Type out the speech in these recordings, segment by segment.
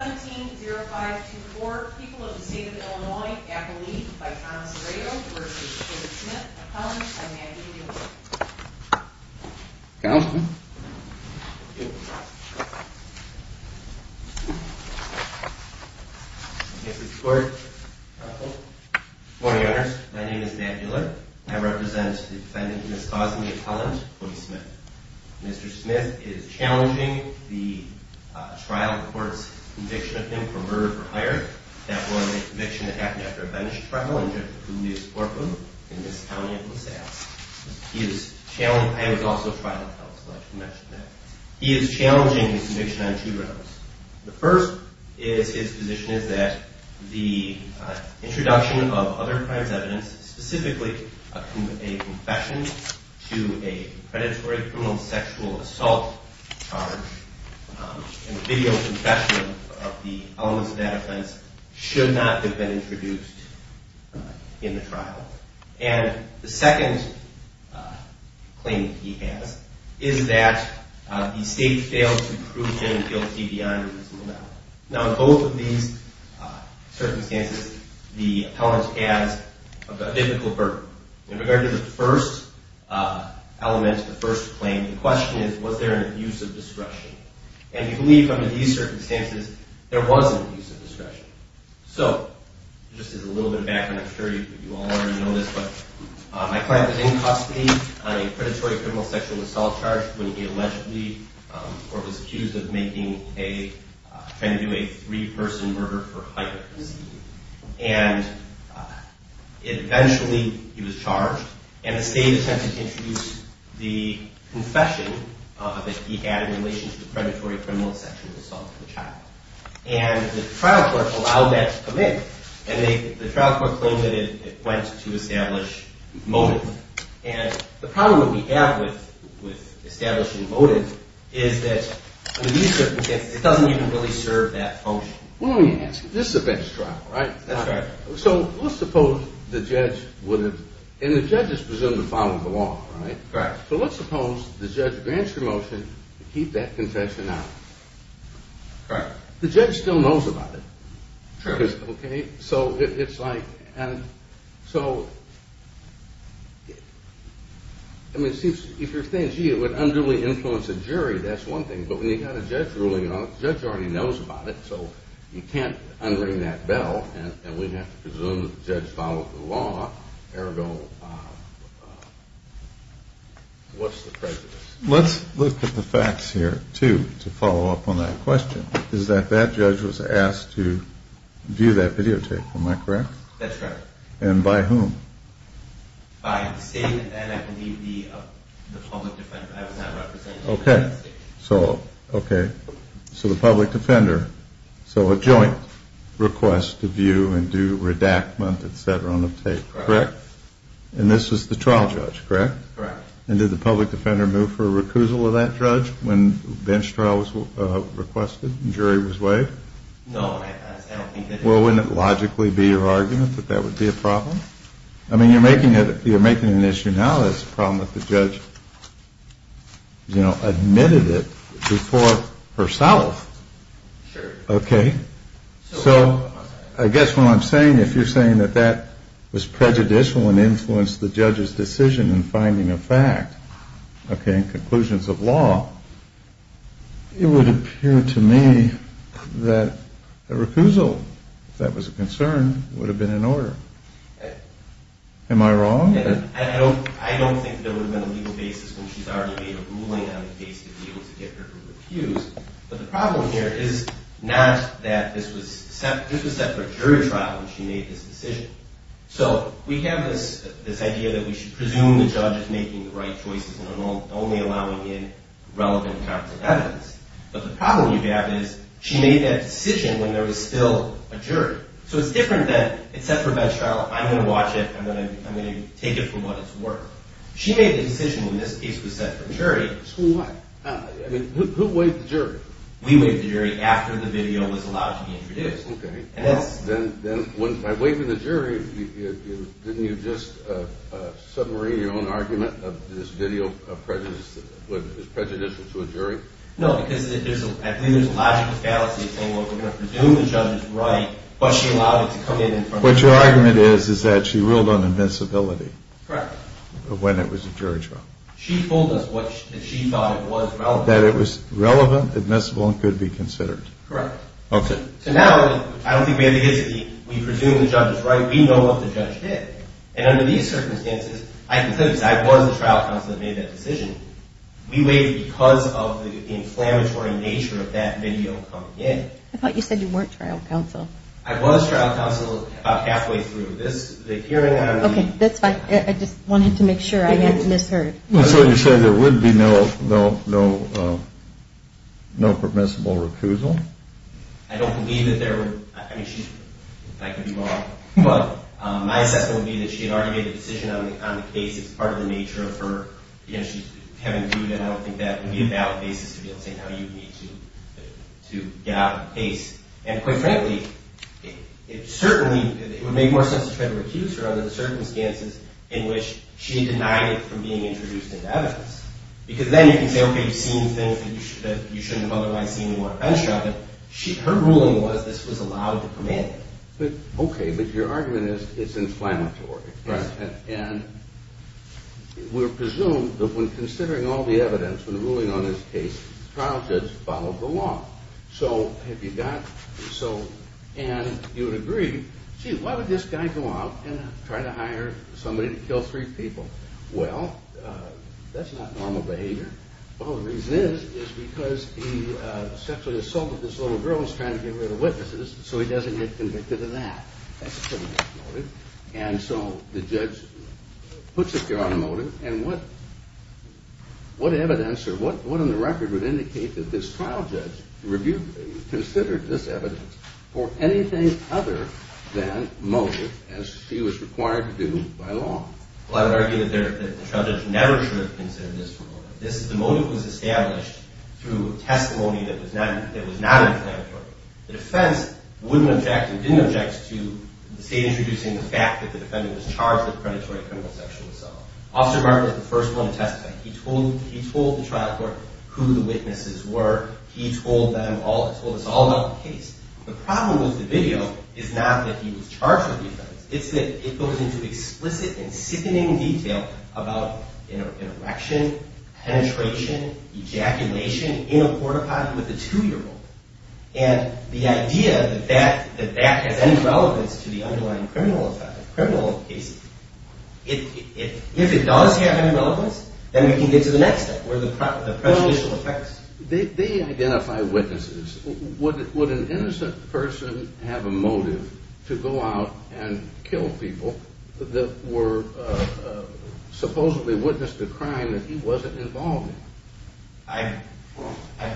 17-05-24 People of the State of Illinois, Appalachia, by Thomas Rado, v. Cody Smith, McCollum, and Maggie Doolittle. Counsel? Mr. Smith. Good morning, Your Honors. My name is Matt Doolittle. I represent the defendant, Ms. Cosme McCollum, Cody Smith. Mr. Smith is challenging the trial court's conviction of him for murder for hire. That was a conviction that happened after a bench trial in Dr. Julius Orphan, in this county of LaSalle. He is challenging... I was also a trial counsel, I should mention that. He is challenging his conviction on two grounds. The first is his position is that the introduction of other crimes evidence, specifically a confession to a predatory criminal sexual assault charge, and a video confession of the elements of that offense, should not have been introduced in the trial. And the second claim he has is that the state failed to prove him guilty beyond reasonable doubt. Now, in both of these circumstances, the appellant has a difficult burden. In regard to the first element, the first claim, the question is, was there an abuse of discretion? And we believe under these circumstances, there was an abuse of discretion. So, just as a little bit of background, I'm sure you all already know this, but my client was in custody on a predatory criminal sexual assault charge when he allegedly, or was accused of making a... trying to do a three-person murder for hire. And eventually, he was charged, and the state attempted to introduce the confession that he had in relation to the predatory criminal sexual assault of the child. And the trial court allowed that to come in. And the trial court claimed that it went to establish motive. And the problem that we have with establishing motive is that under these circumstances, it doesn't even really serve that function. Well, let me ask you, this is a bench trial, right? That's right. So, let's suppose the judge would have... and the judge is presumed to follow the law, right? Correct. So, let's suppose the judge grants the motion to keep that confession out. Correct. The judge still knows about it. True. Okay? So, it's like... and so... I mean, it seems... if you're saying, gee, it would unduly influence a jury, that's one thing, but when you've got a judge ruling on it, the judge already knows about it, so you can't unring that bell, and we'd have to presume that the judge followed the law, ergo, what's the prejudice? Let's look at the facts here, too, to follow up on that question. Is that that judge was asked to view that videotape, am I correct? That's right. And by whom? By the state, and I believe the public defender I was not representing. Okay. So, okay. So, the public defender... so, a joint request to view and do redactment, et cetera, on the tape, correct? Correct. And this was the trial judge, correct? Correct. And did the public defender move for a recusal of that judge when bench trial was requested and jury was waived? No. Well, wouldn't it logically be your argument that that would be a problem? I mean, you're making an issue now that it's a problem that the judge, you know, admitted it before herself. Sure. Okay. So, I guess what I'm saying, if you're saying that that was prejudicial and influenced the judge's decision in finding a fact, okay, in conclusions of law, it would appear to me that a recusal, if that was a concern, would have been in order. Am I wrong? I don't think there would have been a legal basis when she's already made a ruling on the case to be able to get her to recuse. But the problem here is not that this was set for a jury trial when she made this decision. So, we have this idea that we should presume the judge is making the right choices and only allowing in relevant types of evidence. But the problem you have is she made that decision when there was still a jury. So, it's different that it's set for bench trial. I'm going to watch it. I'm going to take it for what it's worth. She made the decision when this case was set for jury. So what? I mean, who waived the jury? We waived the jury after the video was allowed to be introduced. Okay. Then, by waiving the jury, didn't you just submarine your own argument of this video is prejudicial to a jury? No, because I believe there's a logical fallacy of saying, well, we're going to presume the judge is right, but she allowed it to come in in front of the jury. What your argument is is that she ruled on invincibility. Correct. When it was a jury trial. She told us that she thought it was relevant. That it was relevant, admissible, and could be considered. Correct. Okay. So now, I don't think we have the history. We presume the judge is right. We know what the judge did. And under these circumstances, I can say this. I was the trial counsel that made that decision. We waived it because of the inflammatory nature of that video coming in. I thought you said you weren't trial counsel. I was trial counsel about halfway through. This, the hearing on the- Okay, that's fine. I just wanted to make sure I hadn't misheard. So you said there would be no permissible recusal? I don't believe that there would. I mean, I could be wrong. But my assessment would be that she had already made a decision on the case. It's part of the nature of her, you know, she's having to do it. And I don't think that would be a valid basis to be able to say how you would need to get out of the case. And quite frankly, it certainly would make more sense to try to recuse her under the circumstances in which she denied it from being introduced into evidence. Because then you can say, okay, you've seen things that you shouldn't have otherwise seen. You want to finish on it. Her ruling was this was allowed to come in. Okay, but your argument is it's inflammatory. Right. And we're presumed that when considering all the evidence, when ruling on this case, the trial judge followed the law. So have you got, so, and you would agree, gee, why would this guy go out and try to hire somebody to kill three people? Well, that's not normal behavior. Well, the reason is, is because he sexually assaulted this little girl and was trying to get rid of witnesses so he doesn't get convicted of that. That's pretty much noted. Have you considered this evidence for anything other than motive, as she was required to do by law? Well, I would argue that the trial judge never should have considered this for motive. The motive was established through testimony that was not inflammatory. The defense wouldn't object and didn't object to the state introducing the fact that the defendant was charged with predatory criminal sexual assault. Officer Martin was the first one to testify. He told the trial court who the witnesses were. He told them all, told us all about the case. The problem with the video is not that he was charged with the offense. It's that it goes into explicit and sickening detail about an erection, penetration, ejaculation in a port-a-potty with a two-year-old. And the idea that that has any relevance to the underlying criminal effect of criminal cases, if it does have any relevance, then we can get to the next step, where the prejudicial effects. They identify witnesses. Would an innocent person have a motive to go out and kill people that were supposedly witness to a crime that he wasn't involved in? I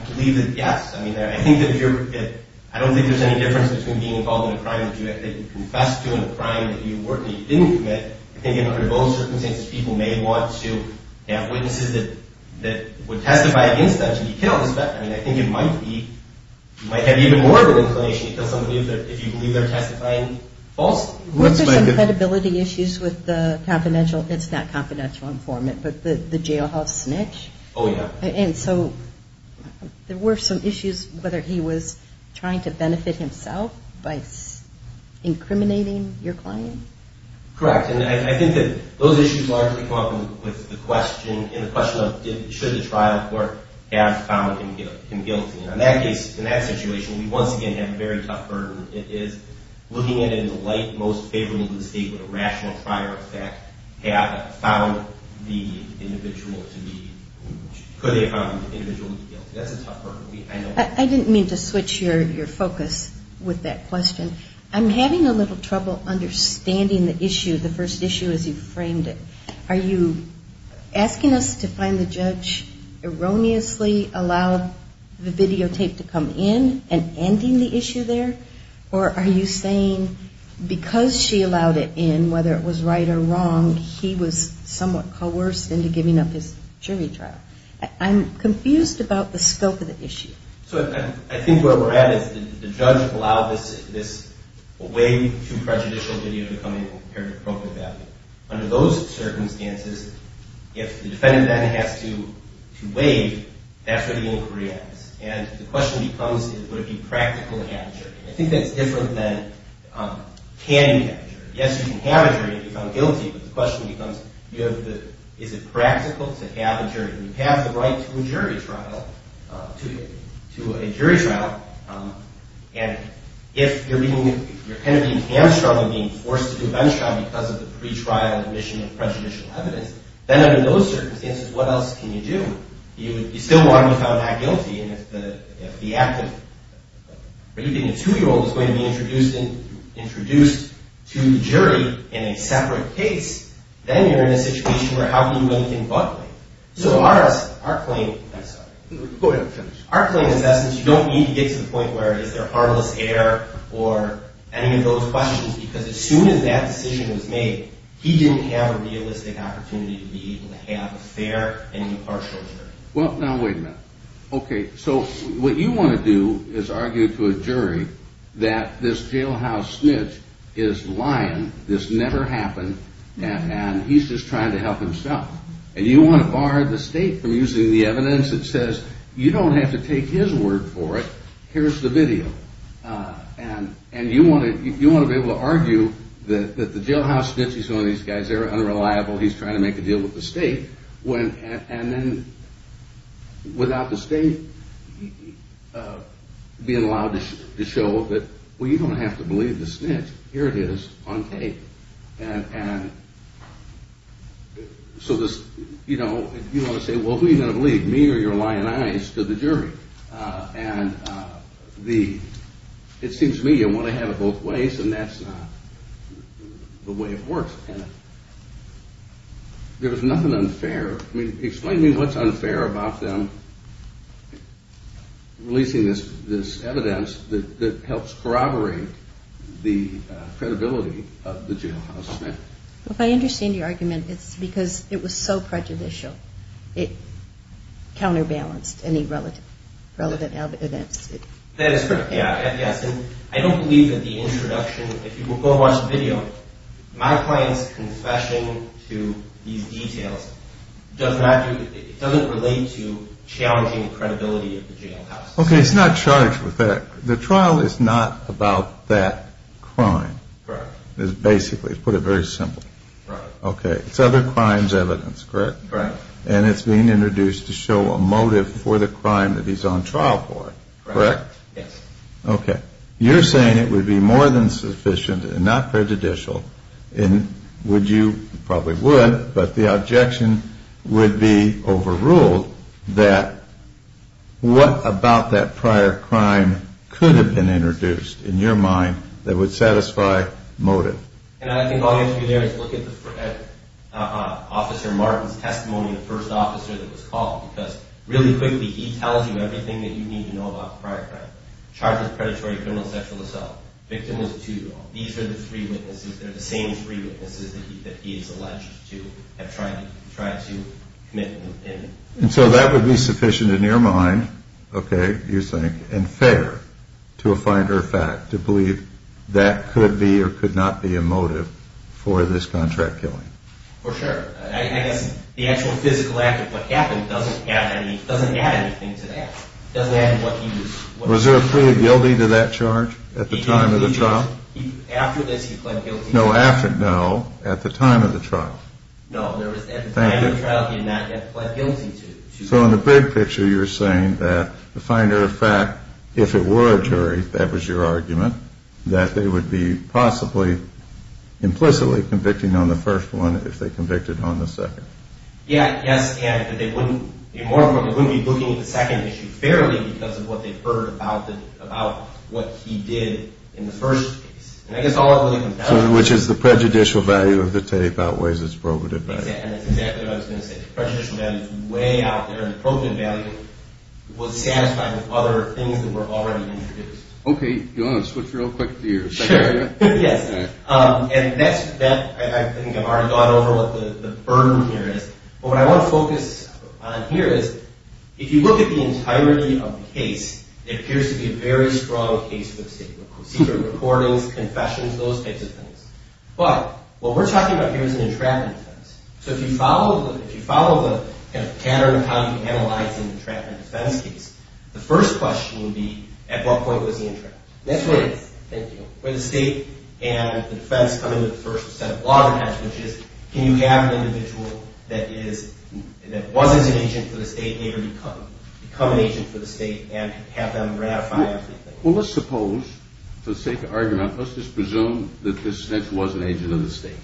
believe that, yes. I mean, I think that if you're – I don't think there's any difference between being involved in a crime that you had to confess to and a crime that you weren't – that you didn't commit. I think under those circumstances, people may want to have witnesses that would testify against them to be killed. I mean, I think it might be – it might have even more of an inclination to kill somebody if you believe they're testifying falsely. Was there some credibility issues with the confidential – it's not confidential informant, but the jailhouse snitch? Oh, yeah. And so there were some issues whether he was trying to benefit himself by incriminating your client? Correct. And I think that those issues largely come up with the question – in the question of should the trial court have found him guilty. And in that case, in that situation, we once again have a very tough burden. It is looking at it in the light most favorable to the state with a rational prior effect have found the individual to be – could they have found the individual to be guilty. That's a tough burden. I didn't mean to switch your focus with that question. I'm having a little trouble understanding the issue, the first issue as you framed it. Are you asking us to find the judge erroneously allowed the videotape to come in and ending the issue there? Or are you saying because she allowed it in, whether it was right or wrong, he was somewhat coerced into giving up his jury trial? I'm confused about the scope of the issue. So I think where we're at is the judge allowed this way too prejudicial video to come in compared to the appropriate value. Under those circumstances, if the defendant then has to waive, that's what the inquiry asks. And the question becomes would it be practical to have a jury. I think that's different than can you have a jury. Yes, you can have a jury if you found guilty, but the question becomes you have the – is it practical to have a jury? You have the right to a jury trial, and if you're being hamstrung and being forced to do a bench trial because of the pretrial admission of prejudicial evidence, then under those circumstances, what else can you do? You still want to be found not guilty, and if the act of raping a two-year-old is going to be introduced to the jury in a separate case, then you're in a situation where how can you do anything but wait? So our claim is that since you don't need to get to the point where is there harmless air or any of those questions, because as soon as that decision was made, he didn't have a realistic opportunity to be able to have a fair and impartial jury. Well, now wait a minute. Okay, so what you want to do is argue to a jury that this jailhouse snitch is lying, this never happened, and he's just trying to help himself. And you want to bar the state from using the evidence that says you don't have to take his word for it, here's the video. And you want to be able to argue that the jailhouse snitch, he's one of these guys, they're unreliable, he's trying to make a deal with the state, and then without the state being allowed to show that, well, you don't have to believe the snitch, here it is on tape. And so you want to say, well, who are you going to believe, me or your lying eyes to the jury? And it seems to me you want to have it both ways, and that's not the way it works. There was nothing unfair. Explain to me what's unfair about them releasing this evidence that helps corroborate the credibility of the jailhouse snitch. If I understand your argument, it's because it was so prejudicial. It counterbalanced any relevant evidence. That is correct, yes, and I don't believe that the introduction, if you will go watch the video, my client's confession to these details, it doesn't relate to challenging the credibility of the jailhouse. Okay, it's not charged with that. The trial is not about that crime. Correct. It's basically, to put it very simply. Correct. Okay, it's other crimes' evidence, correct? Correct. And it's being introduced to show a motive for the crime that he's on trial for, correct? Yes. Okay. You're saying it would be more than sufficient and not prejudicial, and would you, probably would, but the objection would be overruled that what about that prior crime could have been introduced in your mind that would satisfy motive? And I think all you have to do there is look at Officer Martin's testimony, the first officer that was called, because really quickly he tells you everything that you need to know about the prior crime. Charges predatory criminal sexual assault. Victim was a two-year-old. These are the three witnesses. They're the same three witnesses that he is alleged to have tried to commit in. And so that would be sufficient in your mind, okay, you're saying, to a finder of fact to believe that could be or could not be a motive for this contract killing? For sure. I guess the actual physical act of what happened doesn't add anything to that. It doesn't add to what he was. Was there a plea of guilty to that charge at the time of the trial? After this he pled guilty. No, at the time of the trial. No, at the time of the trial he had not yet pled guilty to. So in the big picture you're saying that the finder of fact, if it were a jury, that was your argument, that they would be possibly implicitly convicting on the first one if they convicted on the second. Yes, and they wouldn't be looking at the second issue fairly because of what they heard about what he did in the first case. And I guess all that really comes down to this. Which is the prejudicial value of the tape outweighs its probative value. That's exactly what I was going to say. The prejudicial value is way out there and the probative value was satisfying with other things that were already introduced. Okay, do you want to switch real quick to your second area? Sure, yes. And I think I've already gone over what the burden here is. But what I want to focus on here is if you look at the entirety of the case, it appears to be a very strong case of obscenity. Secret recordings, confessions, those types of things. But what we're talking about here is an entrapment defense. So if you follow the pattern of how you analyze an entrapment defense case, the first question would be at what point was he entrapped. That's right. Thank you. Where the state and the defense come into the first set of law defense, which is can you have an individual that was an agent for the state later become an agent for the state and have them ratify everything. Well, let's suppose, for the sake of argument, let's just presume that this snitch was an agent of the state.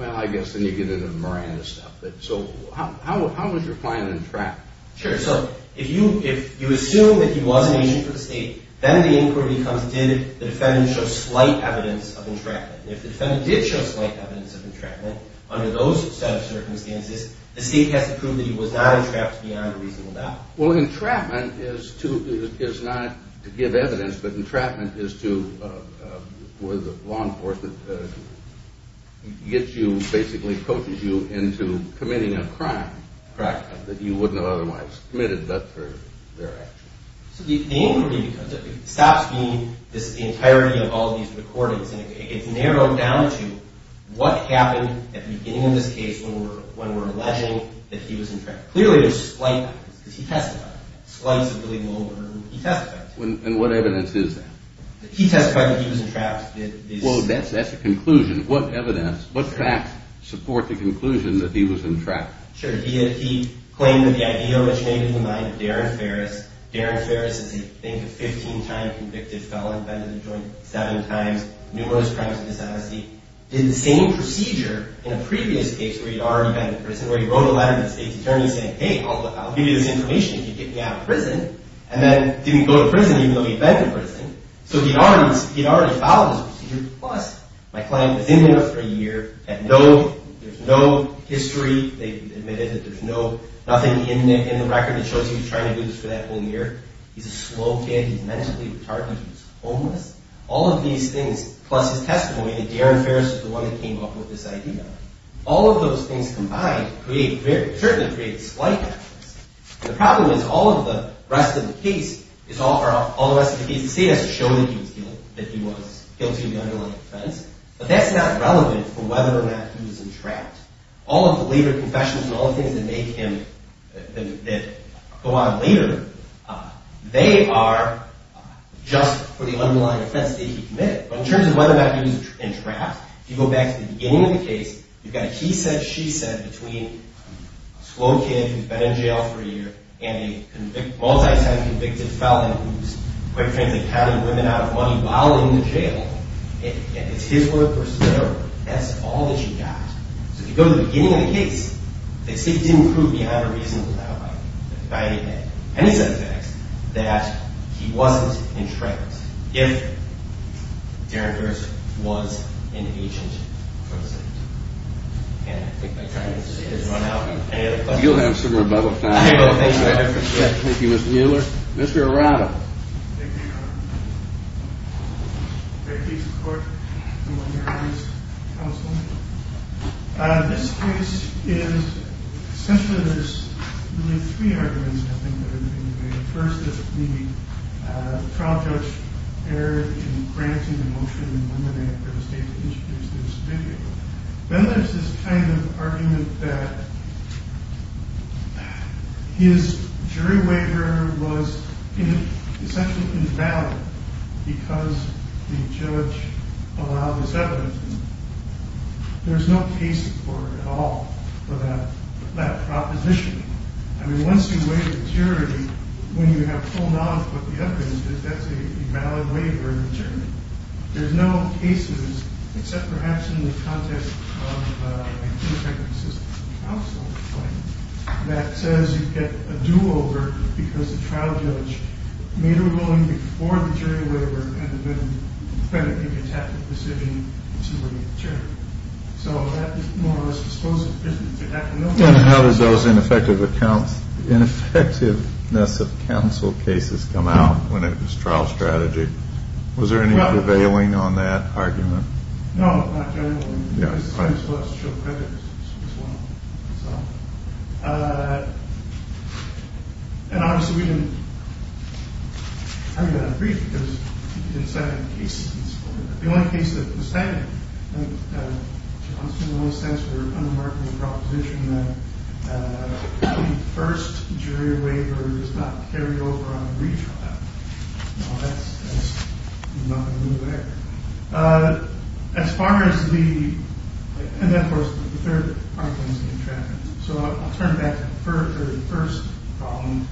Well, I guess then you get into the Miranda stuff. So how was your client entrapped? Sure. So if you assume that he was an agent for the state, then the inquiry becomes did the defendant show slight evidence of entrapment. And if the defendant did show slight evidence of entrapment under those set of circumstances, the state has to prove that he was not entrapped beyond a reasonable doubt. Well, entrapment is not to give evidence, but entrapment is to where the law enforcement gets you, basically coaches you into committing a crime that you wouldn't have otherwise committed but for their actions. So the inquiry stops being this entirety of all these recordings, and it gets narrowed down to what happened at the beginning of this case when we're alleging that he was entrapped. Clearly there's slight evidence because he testified. Slight is a really low order. He testified. And what evidence is that? He testified that he was entrapped. Well, that's a conclusion. What evidence, what facts support the conclusion that he was entrapped? Sure. He claimed that the idea which made him the mind of Darren Ferris, Darren Ferris is, I think, a 15-time convicted felon, been in a joint seven times, numerous crimes of dishonesty, did the same procedure in a previous case where he'd already been in prison, where he wrote a letter to the state's attorney saying, hey, I'll give you this information if you get me out of prison, and then didn't go to prison even though he'd been to prison. So he'd already filed this procedure, plus my client was in there for a year, had no, there's no history. They admitted that there's nothing in the record that shows he was trying to do this for that whole year. He's a slow kid. He's mentally retarded. He's homeless. All of these things, plus his testimony that Darren Ferris was the one that came up with this idea, all of those things combined create, certainly create a slight difference. The problem is all of the rest of the case, the state has shown that he was guilty of the underlying offense, but that's not relevant for whether or not he was entrapped. All of the later confessions and all the things that make him, that go on later, they are just for the underlying offense that he committed. But in terms of whether or not he was entrapped, if you go back to the beginning of the case, you've got a he said, she said between a slow kid who's been in jail for a year and a multi-time convicted felon who's quite frankly counting women out of money while in the jail. It's his word versus their word. That's all that you got. So if you go to the beginning of the case, the state didn't prove beyond a reasonable doubt by any set of facts that he wasn't entrapped. If Darren Burris was an agent present. And I think by trying to get this run out, any other questions? You'll have some rebuttal time. Thank you, Mr. Mueller. Mr. Arado. Thank you, Your Honor. Thank you, Your Court. I'm on your case, counsel. This case is, essentially there's really three arguments I think that are going to be made. The first is the trial judge erred in granting the motion to eliminate the state that introduced this video. Then there's this kind of argument that his jury waiver was essentially invalid because the judge allowed his evidence. There's no case for it at all, for that proposition. I mean, once you waive the jury, when you have pulled off what the evidence is, that's a valid waiver in the jury. There's no cases, except perhaps in the context of an ineffective system of counsel, that says you get a do-over because the trial judge made a ruling before the jury waiver and then definitively attacked the decision to waive the jury. So that is more or less dispositive. And how does those ineffective accounts, ineffectiveness of counsel cases come out when it was trial strategy? Was there any prevailing on that argument? No, not generally. I just wanted to show credit as well. And obviously we didn't, I'm going to have to read it because it's the second case. The only case that, the second, in a sense, we're unmarking the proposition that the first jury waiver does not carry over on a retrial. Now that's nothing new there. As far as the, and then of course, the third argument is the entrapment. So I'll turn back to the first problem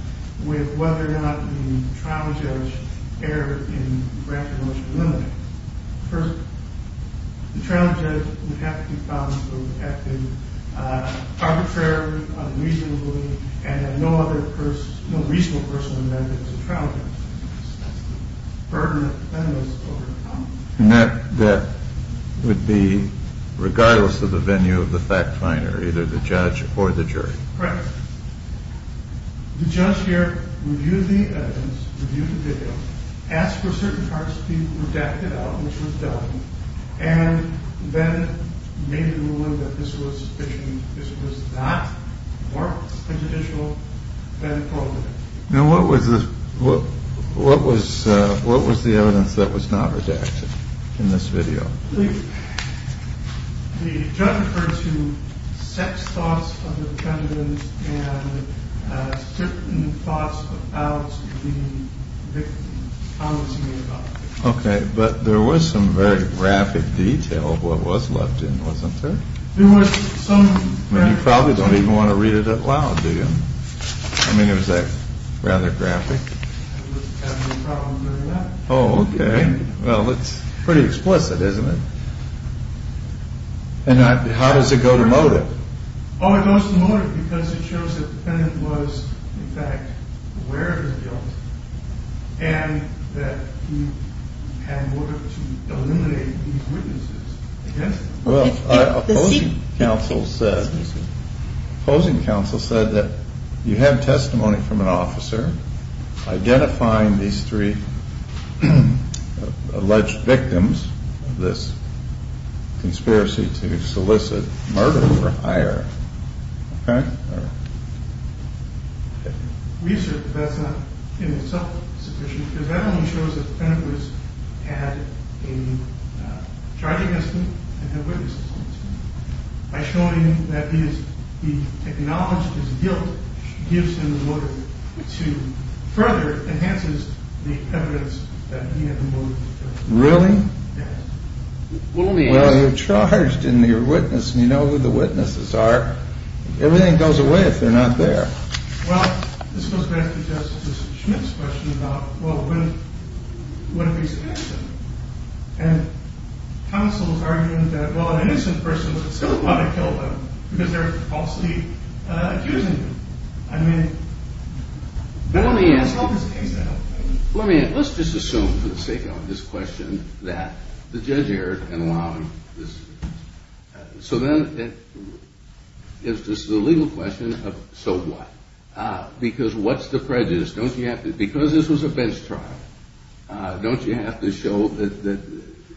with whether or not the trial judge erred in rationality. First, the trial judge would have to be found to have been arbitrary, unreasonably, and no other person, no reasonable person would have been able to trial judge. That's the burden that the defendants overcome. And that would be regardless of the venue of the fact finder, either the judge or the jury. Correct. The judge here reviewed the evidence, reviewed the video, asked for certain parts to be redacted out, which was done, and then made a ruling that this was not more judicial than appropriate. Now, what was this? What was what was the evidence that was not redacted in this video? The judge referred to sex thoughts of the defendants and certain thoughts about the victims. OK, but there was some very graphic detail of what was left in, wasn't there? There was some. You probably don't even want to read it out loud, do you? I mean, it was rather graphic. Oh, OK. Well, it's pretty explicit, isn't it? And how does it go to motive? Oh, it goes to motive because it shows that the defendant was in fact aware of his guilt and that he had motive to eliminate these witnesses. Well, the opposing counsel said that you have testimony from an officer identifying these three alleged victims of this conspiracy to solicit murder or hire. Research that's not in itself sufficient because that only shows that the defendant had a charge against him and had witnesses on the scene. By showing that he acknowledged his guilt gives him the motive to further enhances the evidence that he had the motive to kill. Really? Well, you're charged and you're a witness and you know who the witnesses are. Everything goes away if they're not there. Well, this goes back to Justice Schmitt's question about, well, what if he's innocent? And counsel was arguing that, well, an innocent person would still want to kill them because they're falsely accusing them. I mean, that's not the case at all. Let's just assume, for the sake of this question, that the judge erred in allowing this. So then it's just a legal question of so what? Because what's the prejudice? Don't you have to – because this was a bench trial, don't you have to show that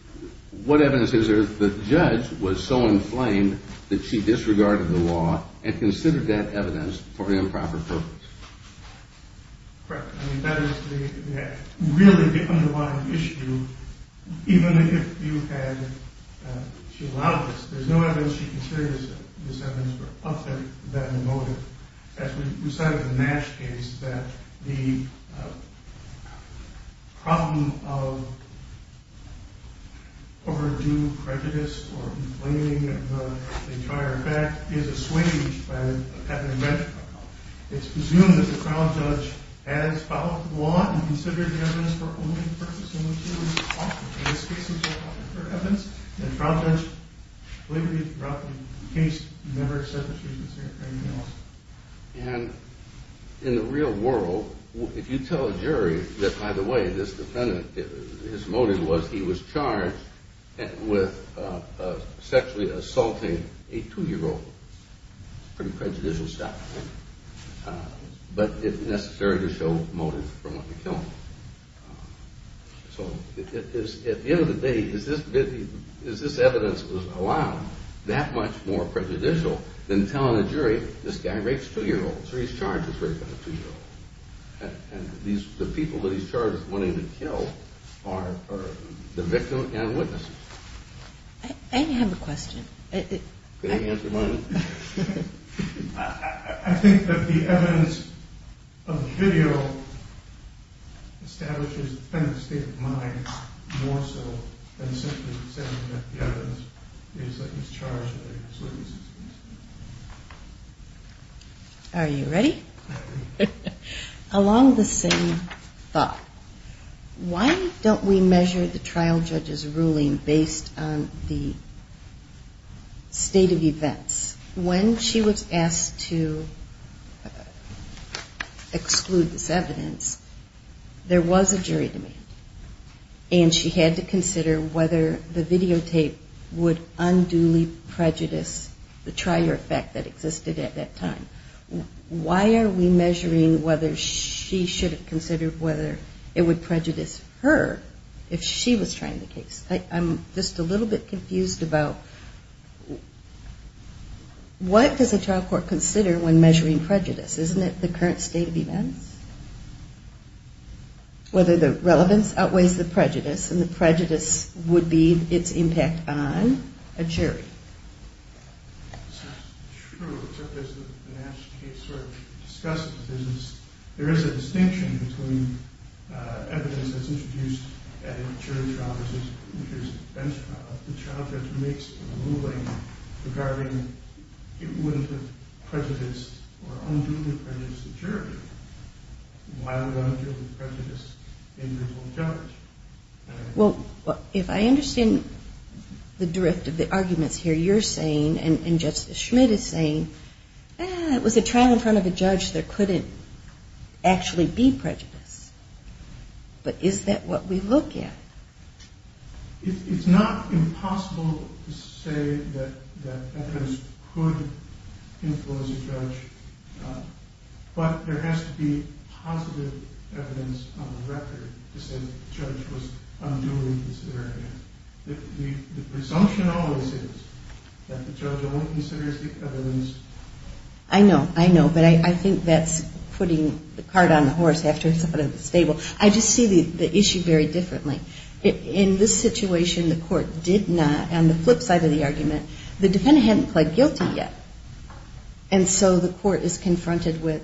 – what evidence is there that the judge was so inflamed that she disregarded the law and considered that evidence for an improper purpose? Correct. I mean, that is really the underlying issue. Even if you had – she allowed this. There's no evidence she considers that this evidence were of that motive. As we said in the Nash case, that the problem of overdue prejudice or inflating of the entire fact is assuaged by having a bench trial. It's presumed that the trial judge added this problem to the law and considered the evidence for only the purpose in which it was offered. In this case, it was offered for evidence. And the trial judge, believe it or not, in the case, never said that she considered anything else. And in the real world, if you tell a jury that, by the way, this defendant, his motive was he was charged with sexually assaulting a two-year-old, it's pretty prejudicial stuff. But it's necessary to show motive for wanting to kill him. So at the end of the day, is this evidence allowed that much more prejudicial than telling a jury, this guy rapes two-year-olds, or he's charged with raping a two-year-old? And the people that he's charged with wanting to kill are the victim and witnesses. I have a question. Can you answer one? I think that the evidence of the video establishes the defendant's state of mind more so than simply saying that the evidence is that he's charged with raping his witnesses. Are you ready? Along the same thought. Why don't we measure the trial judge's ruling based on the state of events? When she was asked to exclude this evidence, there was a jury demand. And she had to consider whether the videotape would unduly prejudice the trier effect that existed at that time. Why are we measuring whether she should have considered whether it would prejudice her if she was trying the case? I'm just a little bit confused about what does a trial court consider when measuring prejudice? Isn't it the current state of events? Whether the relevance outweighs the prejudice, and the prejudice would be its impact on a jury. It's true. There is a distinction between evidence that's introduced at a jury trial versus a bench trial. The trial judge makes a ruling regarding it wouldn't have prejudiced or unduly prejudiced the jury. Why would unduly prejudice the individual judge? Well, if I understand the drift of the arguments here, you're saying, and Justice Schmidt is saying, it was a trial in front of a judge, there couldn't actually be prejudice. But is that what we look at? It's not impossible to say that evidence could influence a judge. But there has to be positive evidence on the record to say the judge was unduly considering it. The presumption always is that the judge only considers the evidence. I know, I know. But I think that's putting the cart on the horse after somebody's stable. I just see the issue very differently. In this situation, the court did not, on the flip side of the argument, the defendant hadn't pled guilty yet. And so the court is confronted with,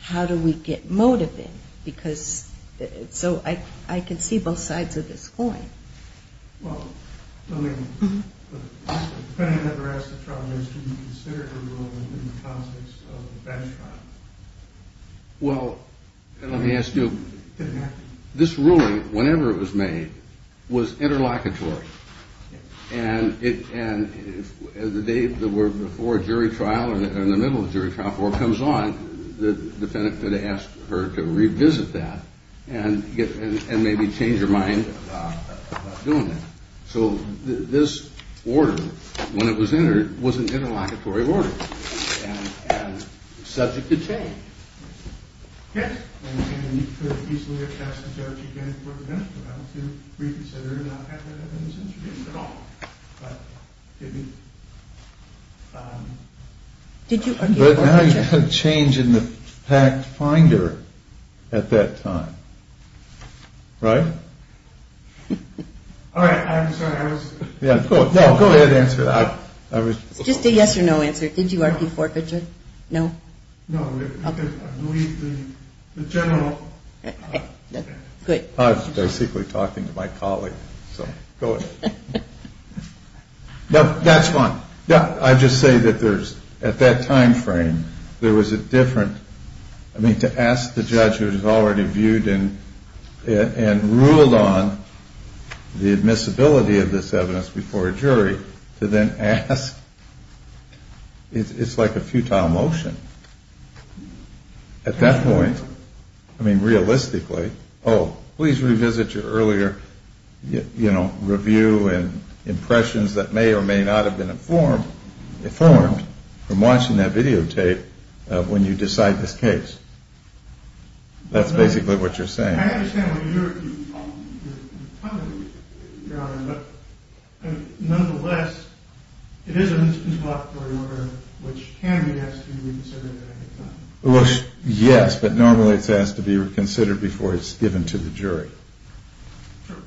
how do we get motive in? Because so I can see both sides of this coin. Well, let me ask you, this ruling, whenever it was made, was interlocutory. And the day before a jury trial or in the middle of a jury trial before it comes on, the defendant could have asked her to revisit that and maybe change her mind about doing that. So this order, when it was entered, was an interlocutory order and subject to change. And you could easily have asked the judge again before the jury trial to reconsider and not have that evidence introduced at all. But it didn't. But now you have a change in the fact finder at that time. Right? All right. I'm sorry. Go ahead and answer that. Just a yes or no answer. Did you argue for it, Richard? No? No. I believe the general. Good. I was basically talking to my colleague. So go ahead. No, that's fine. Yeah, I just say that there's, at that time frame, there was a different, I mean, to ask the judge who was already viewed and ruled on the admissibility of this evidence before a jury to then ask. It's like a futile motion. At that point, I mean, realistically, oh, please revisit your earlier, you know, review and impressions that may or may not have been informed from watching that videotape when you decide this case. That's basically what you're saying. I understand what you're talking about, Your Honor. But nonetheless, it is a miscontroversial order, which can be asked to be reconsidered at any time. Well, yes, but normally it's asked to be reconsidered before it's given to the jury. True.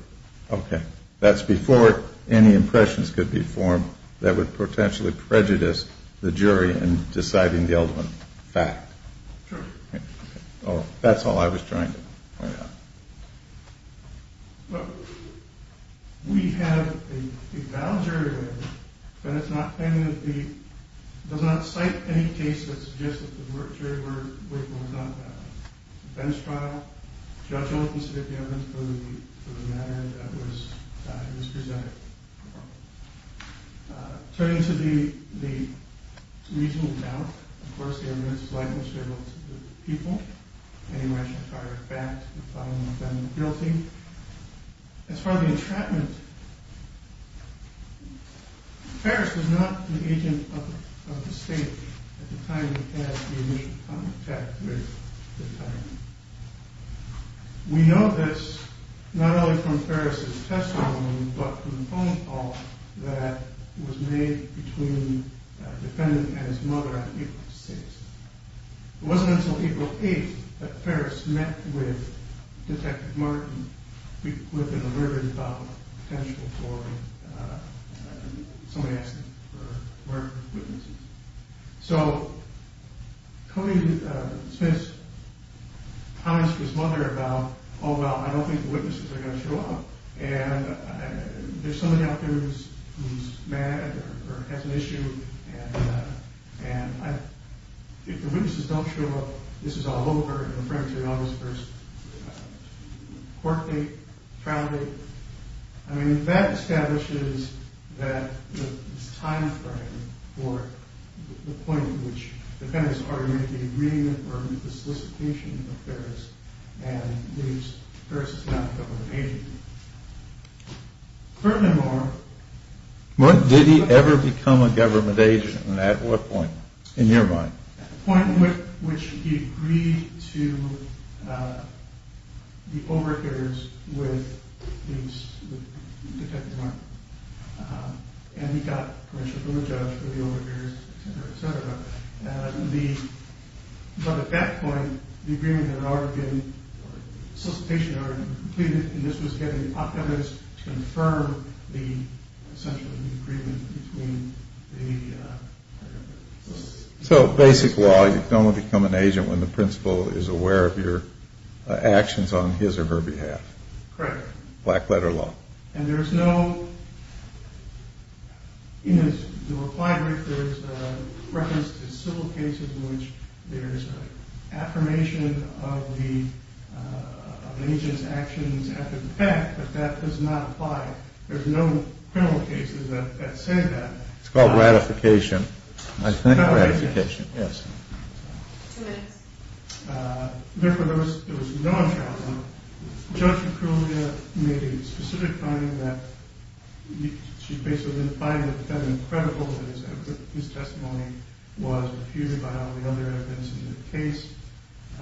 Okay. That's before any impressions could be formed that would potentially prejudice the jury in deciding the ultimate fact. True. Oh, that's all I was trying to point out. Well, we have a valid jury record, but it does not cite any case that suggests that the jury was not valid. In the Venice trial, the judge only considered the evidence for the manner in which it was presented. Turning to the reasonable doubt, of course, the evidence is likely to be able to do with the people. Anyone should fire it back to the final defendant guilty. As far as the entrapment, Ferris was not the agent of the state at the time he had the initial contact with the time. We know this not only from Ferris' testimony, but from the phone call that was made between the defendant and his mother on April 6th. It wasn't until April 8th that Ferris met with Detective Martin, who had been a murder-in-probable potential for somebody asking for murder witnesses. So, Tony Smith's comments to his mother about, oh, well, I don't think the witnesses are going to show up, and there's somebody out there who's mad or has an issue, and if the witnesses don't show up, this is all over, I mean, that establishes that this time frame for the point in which defendants already made the agreement or the solicitation of Ferris, and leaves Ferris as not a government agent. Furthermore... Did he ever become a government agent? At what point, in your mind? At the point in which he agreed to the overhears with Detective Martin, and he got a criminal judge for the overhears, etc., etc., but at that point, the agreement had already been, the solicitation had already been completed, and this was getting optimized to confirm the, essentially, the agreement between the... So, basic law, you can only become an agent when the principal is aware of your actions on his or her behalf. Correct. Black-letter law. And there's no... In his reply brief, there's a reference to civil cases in which there's an affirmation of the agent's actions after the fact, but that does not apply. There's no criminal cases that say that. It's called ratification. It's called ratification. I think ratification, yes. Two minutes. Therefore, there was no... Judge Aculia made a specific finding that... She basically defined the defendant credible that his testimony was refuted by all the other evidence in the case.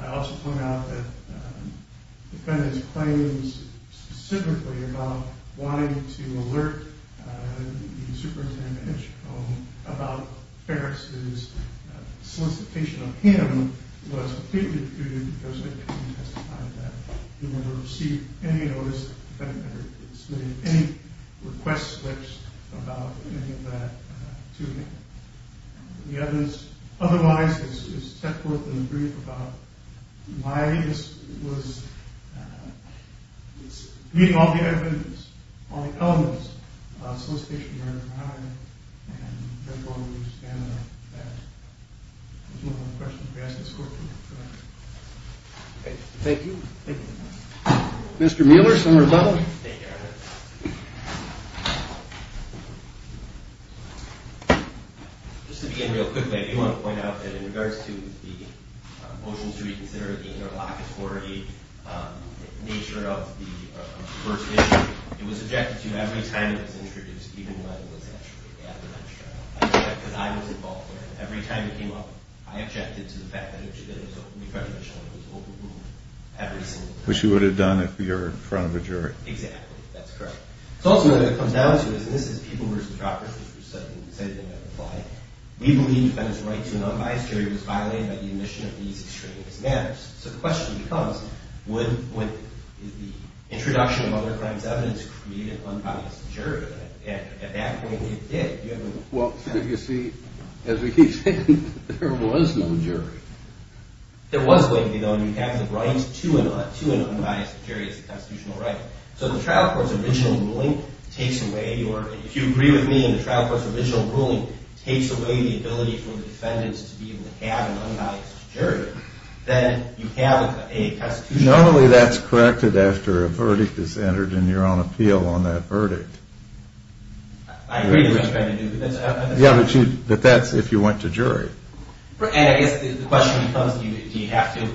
I also point out that the defendant's claims specifically about wanting to alert the superintendent about Ferris' solicitation of him was completely refuted because they couldn't testify to that. He never received any notice that the defendant had submitted any request slips about any of that to him. The evidence otherwise is set forth in the brief about why this was... It's reading all the evidence, all the elements of solicitation of your honor. And therefore, we stand on that. That's one of the questions we ask this court to answer. Thank you. Thank you. Mr. Mueller, Senator Butler. Thank you, Your Honor. Just to begin real quickly, I do want to point out that in regards to the motions to reconsider the interlocutory nature of the first issue, it was objected to every time it was introduced, even when it was actually at the bench trial. I object because I was involved there. Every time it came up, I objected to the fact that it should have been referred to as shown. It was overruled every single time. Which you would have done if you were in front of a jury. Exactly. That's correct. So ultimately what it comes down to is, and this is People v. Droppers, which we said they would apply, we believe that it's a right to an unbiased jury was violated by the admission of these extraneous matters. So the question becomes, would the introduction of other crimes evidence create an unbiased jury? And at that point, it did. Well, you see, as we keep saying, there was no jury. There was going to be, though, and you have the right to an unbiased jury as a constitutional right. So the trial court's original ruling takes away, or if you agree with me, and the trial court's original ruling takes away the ability for the defendants to be able to have an unbiased jury, then you have a constitutional right. Normally that's corrected after a verdict is entered in your own appeal on that verdict. I agree with what you're trying to do. Yeah, but that's if you went to jury. And I guess the question becomes, do you have to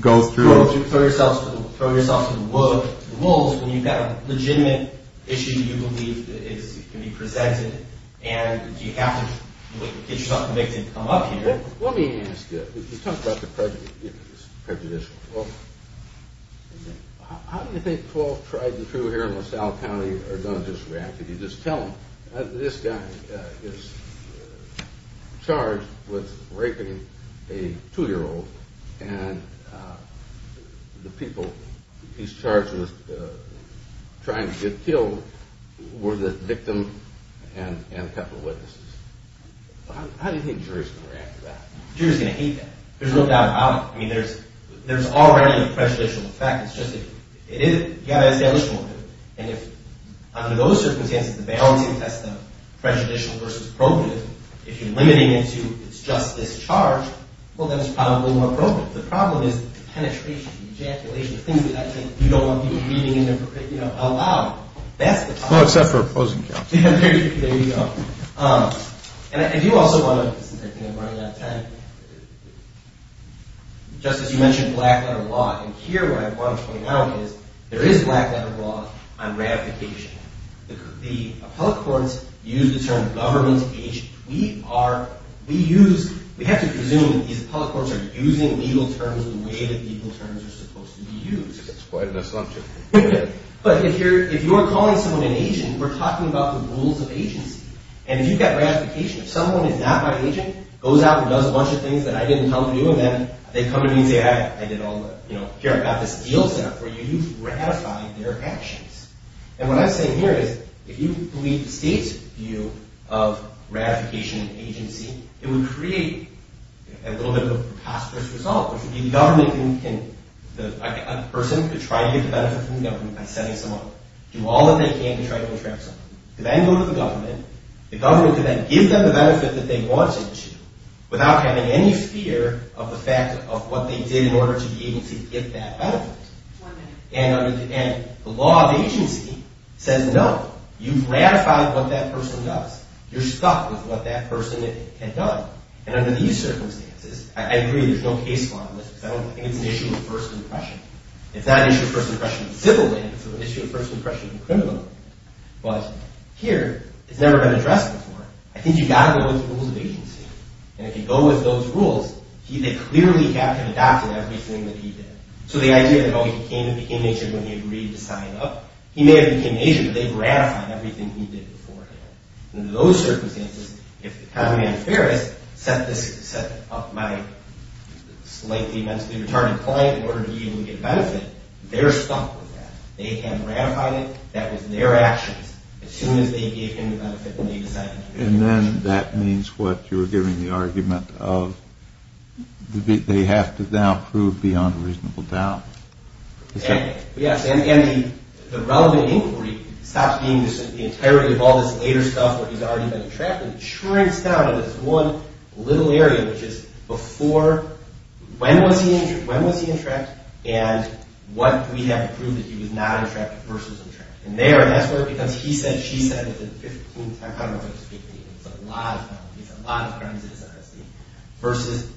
throw yourself to the wolves when you've got a legitimate issue you believe can be presented, and do you have to get yourself convicted to come up here? Let me ask you, you talked about the prejudice. Well, how do you think 12 tried and true here in LaSalle County are going to just react? If you just tell them, this guy is charged with raping a 2-year-old, and the people he's charged with trying to get killed were the victim and a couple of witnesses. How do you think the jury's going to react to that? The jury's going to hate that. There's no doubt about it. I mean, there's already a prejudicial effect. You've got to establish motive. And if under those circumstances, the balancing test of prejudicial versus appropriate, if you're limiting it to it's just this charge, well, then it's probably a little more appropriate. The problem is the penetration, the ejaculation, the things that I think you don't want people reading in there aloud. That's the problem. Well, except for opposing counsel. There you go. And I do also want to, since I think I'm running out of time, just as you mentioned black-letter law. And here what I want to point out is there is black-letter law on ratification. The appellate courts use the term government agent. We have to presume that these appellate courts are using legal terms the way that legal terms are supposed to be used. That's quite an assumption. But if you're calling someone an agent, we're talking about the rules of agency. And if you've got ratification, if someone is not my agent, goes out and does a bunch of things that I didn't tell them to do, and then they come to me and say, I did all the, you know, here, I've got this deal set up for you. You've ratified their actions. And what I'm saying here is if you believe the state's view of ratification and agency, it would create a little bit of a preposterous result, which would be the government can, a person could try to get the benefit from the government by setting someone up. Do all that they can to try to entrap someone. Then go to the government. The government can then give them the benefit that they want it to without having any fear of the fact of what they did in order to be able to get that benefit. And the law of agency says, no, you've ratified what that person does. You're stuck with what that person had done. And under these circumstances, I agree, there's no case law in this. I don't think it's an issue of first impression. It's not an issue of first impression of civility. It's an issue of first impression of the criminal. But here, it's never been addressed before. I think you've got to go with the rules of agency. And if you go with those rules, they clearly have to adopt everything that he did. So the idea that, oh, he became an agent when he agreed to sign up, he may have become an agent, but they've ratified everything he did beforehand. Under those circumstances, if the government affairs set up my slightly mentally retarded client in order to be able to get benefit, they're stuck with that. They have ratified it. That was their actions as soon as they gave him the benefit and they decided to do it. And then that means what you were giving the argument of they have to now prove beyond reasonable doubt. Yes. And the relevant inquiry stops being the entirety of all this later stuff where he's already been trapped and shrinks down to this one little area, which is before when was he entrapped and what we have to prove that he was not entrapped versus entrapped. And there, that's where it becomes he said, she said, it's a lot of penalties, a lot of premises, versus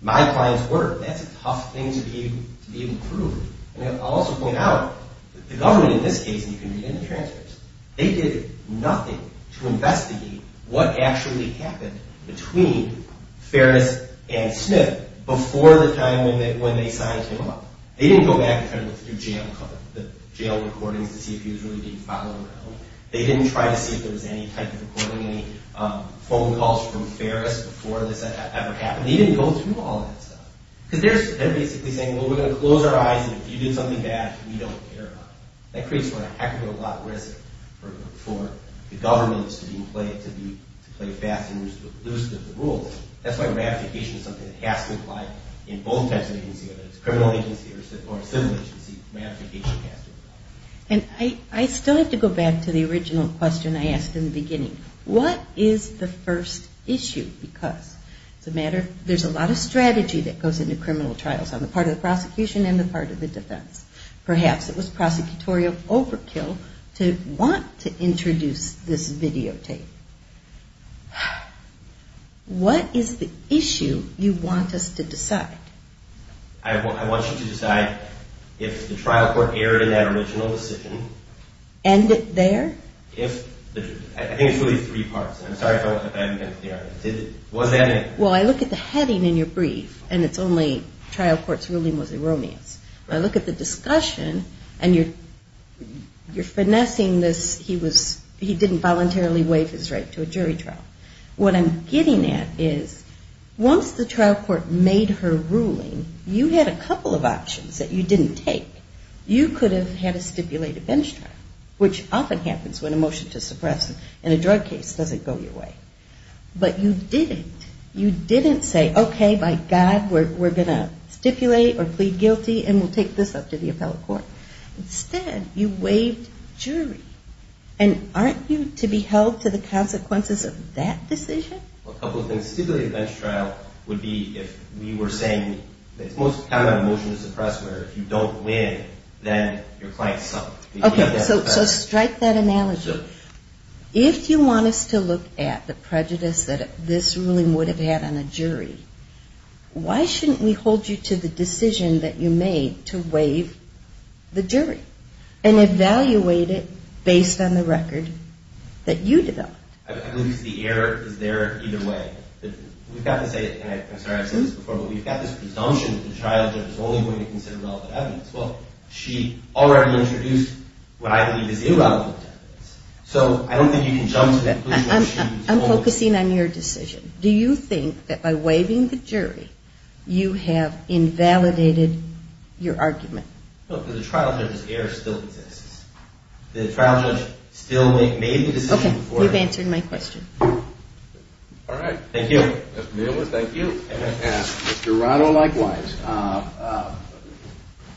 my client's work. That's a tough thing to be able to prove. And I'll also point out that the government in this case, and you can read in the transcripts, they did nothing to investigate what actually happened between Ferris and Smith before the time when they signed him up. They didn't go back and look through jail recordings to see if he was really being followed around. They didn't try to see if there was any type of recording, any phone calls from Ferris before this ever happened. They didn't go through all that stuff. Because they're basically saying, well, we're going to close our eyes, and if you do something bad, we don't care about it. That creates a heck of a lot of risk for the governments to play fast and loose with the rules. That's why ratification is something that has to apply in both types of agencies, whether it's a criminal agency or a civil agency, ratification has to apply. And I still have to go back to the original question I asked in the beginning. What is the first issue? Because there's a lot of strategy that goes into criminal trials on the part of the prosecution and the part of the defense. Perhaps it was prosecutorial overkill to want to introduce this videotape. What is the issue you want us to decide? I want you to decide if the trial court erred in that original decision. End it there? I think it's really three parts. I'm sorry if I haven't been clear. Well, I look at the heading in your brief, and it's only trial court's ruling was erroneous. I look at the discussion, and you're finessing this, he didn't voluntarily waive his right to a jury trial. What I'm getting at is once the trial court made her ruling, you had a couple of options that you didn't take. You could have had to stipulate a bench trial, which often happens when a motion to suppress in a drug case doesn't go your way. But you didn't. You didn't say, okay, by God, we're going to stipulate or plead guilty and we'll take this up to the appellate court. Instead, you waived jury. And aren't you to be held to the consequences of that decision? A couple of things. Stipulate a bench trial would be if we were saying, it's most common a motion to suppress where if you don't win, then your client suffers. Okay, so strike that analogy. If you want us to look at the prejudice that this ruling would have had on a jury, why shouldn't we hold you to the decision that you made to waive the jury and evaluate it based on the record that you developed? I believe the error is there either way. We've got to say it, and I'm sorry I've said this before, but we've got this presumption that the trial judge is only going to consider relevant evidence. Well, she already introduced what I believe is irrelevant evidence. So I don't think you can jump to conclusions. I'm focusing on your decision. Do you think that by waiving the jury, you have invalidated your argument? No, because the trial judge's error still exists. The trial judge still made the decision before. Okay, you've answered my question. All right. Thank you. Thank you. Mr. Rado, likewise.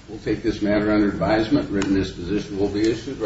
We'll take this matter under advisement. Written disposition will be issued.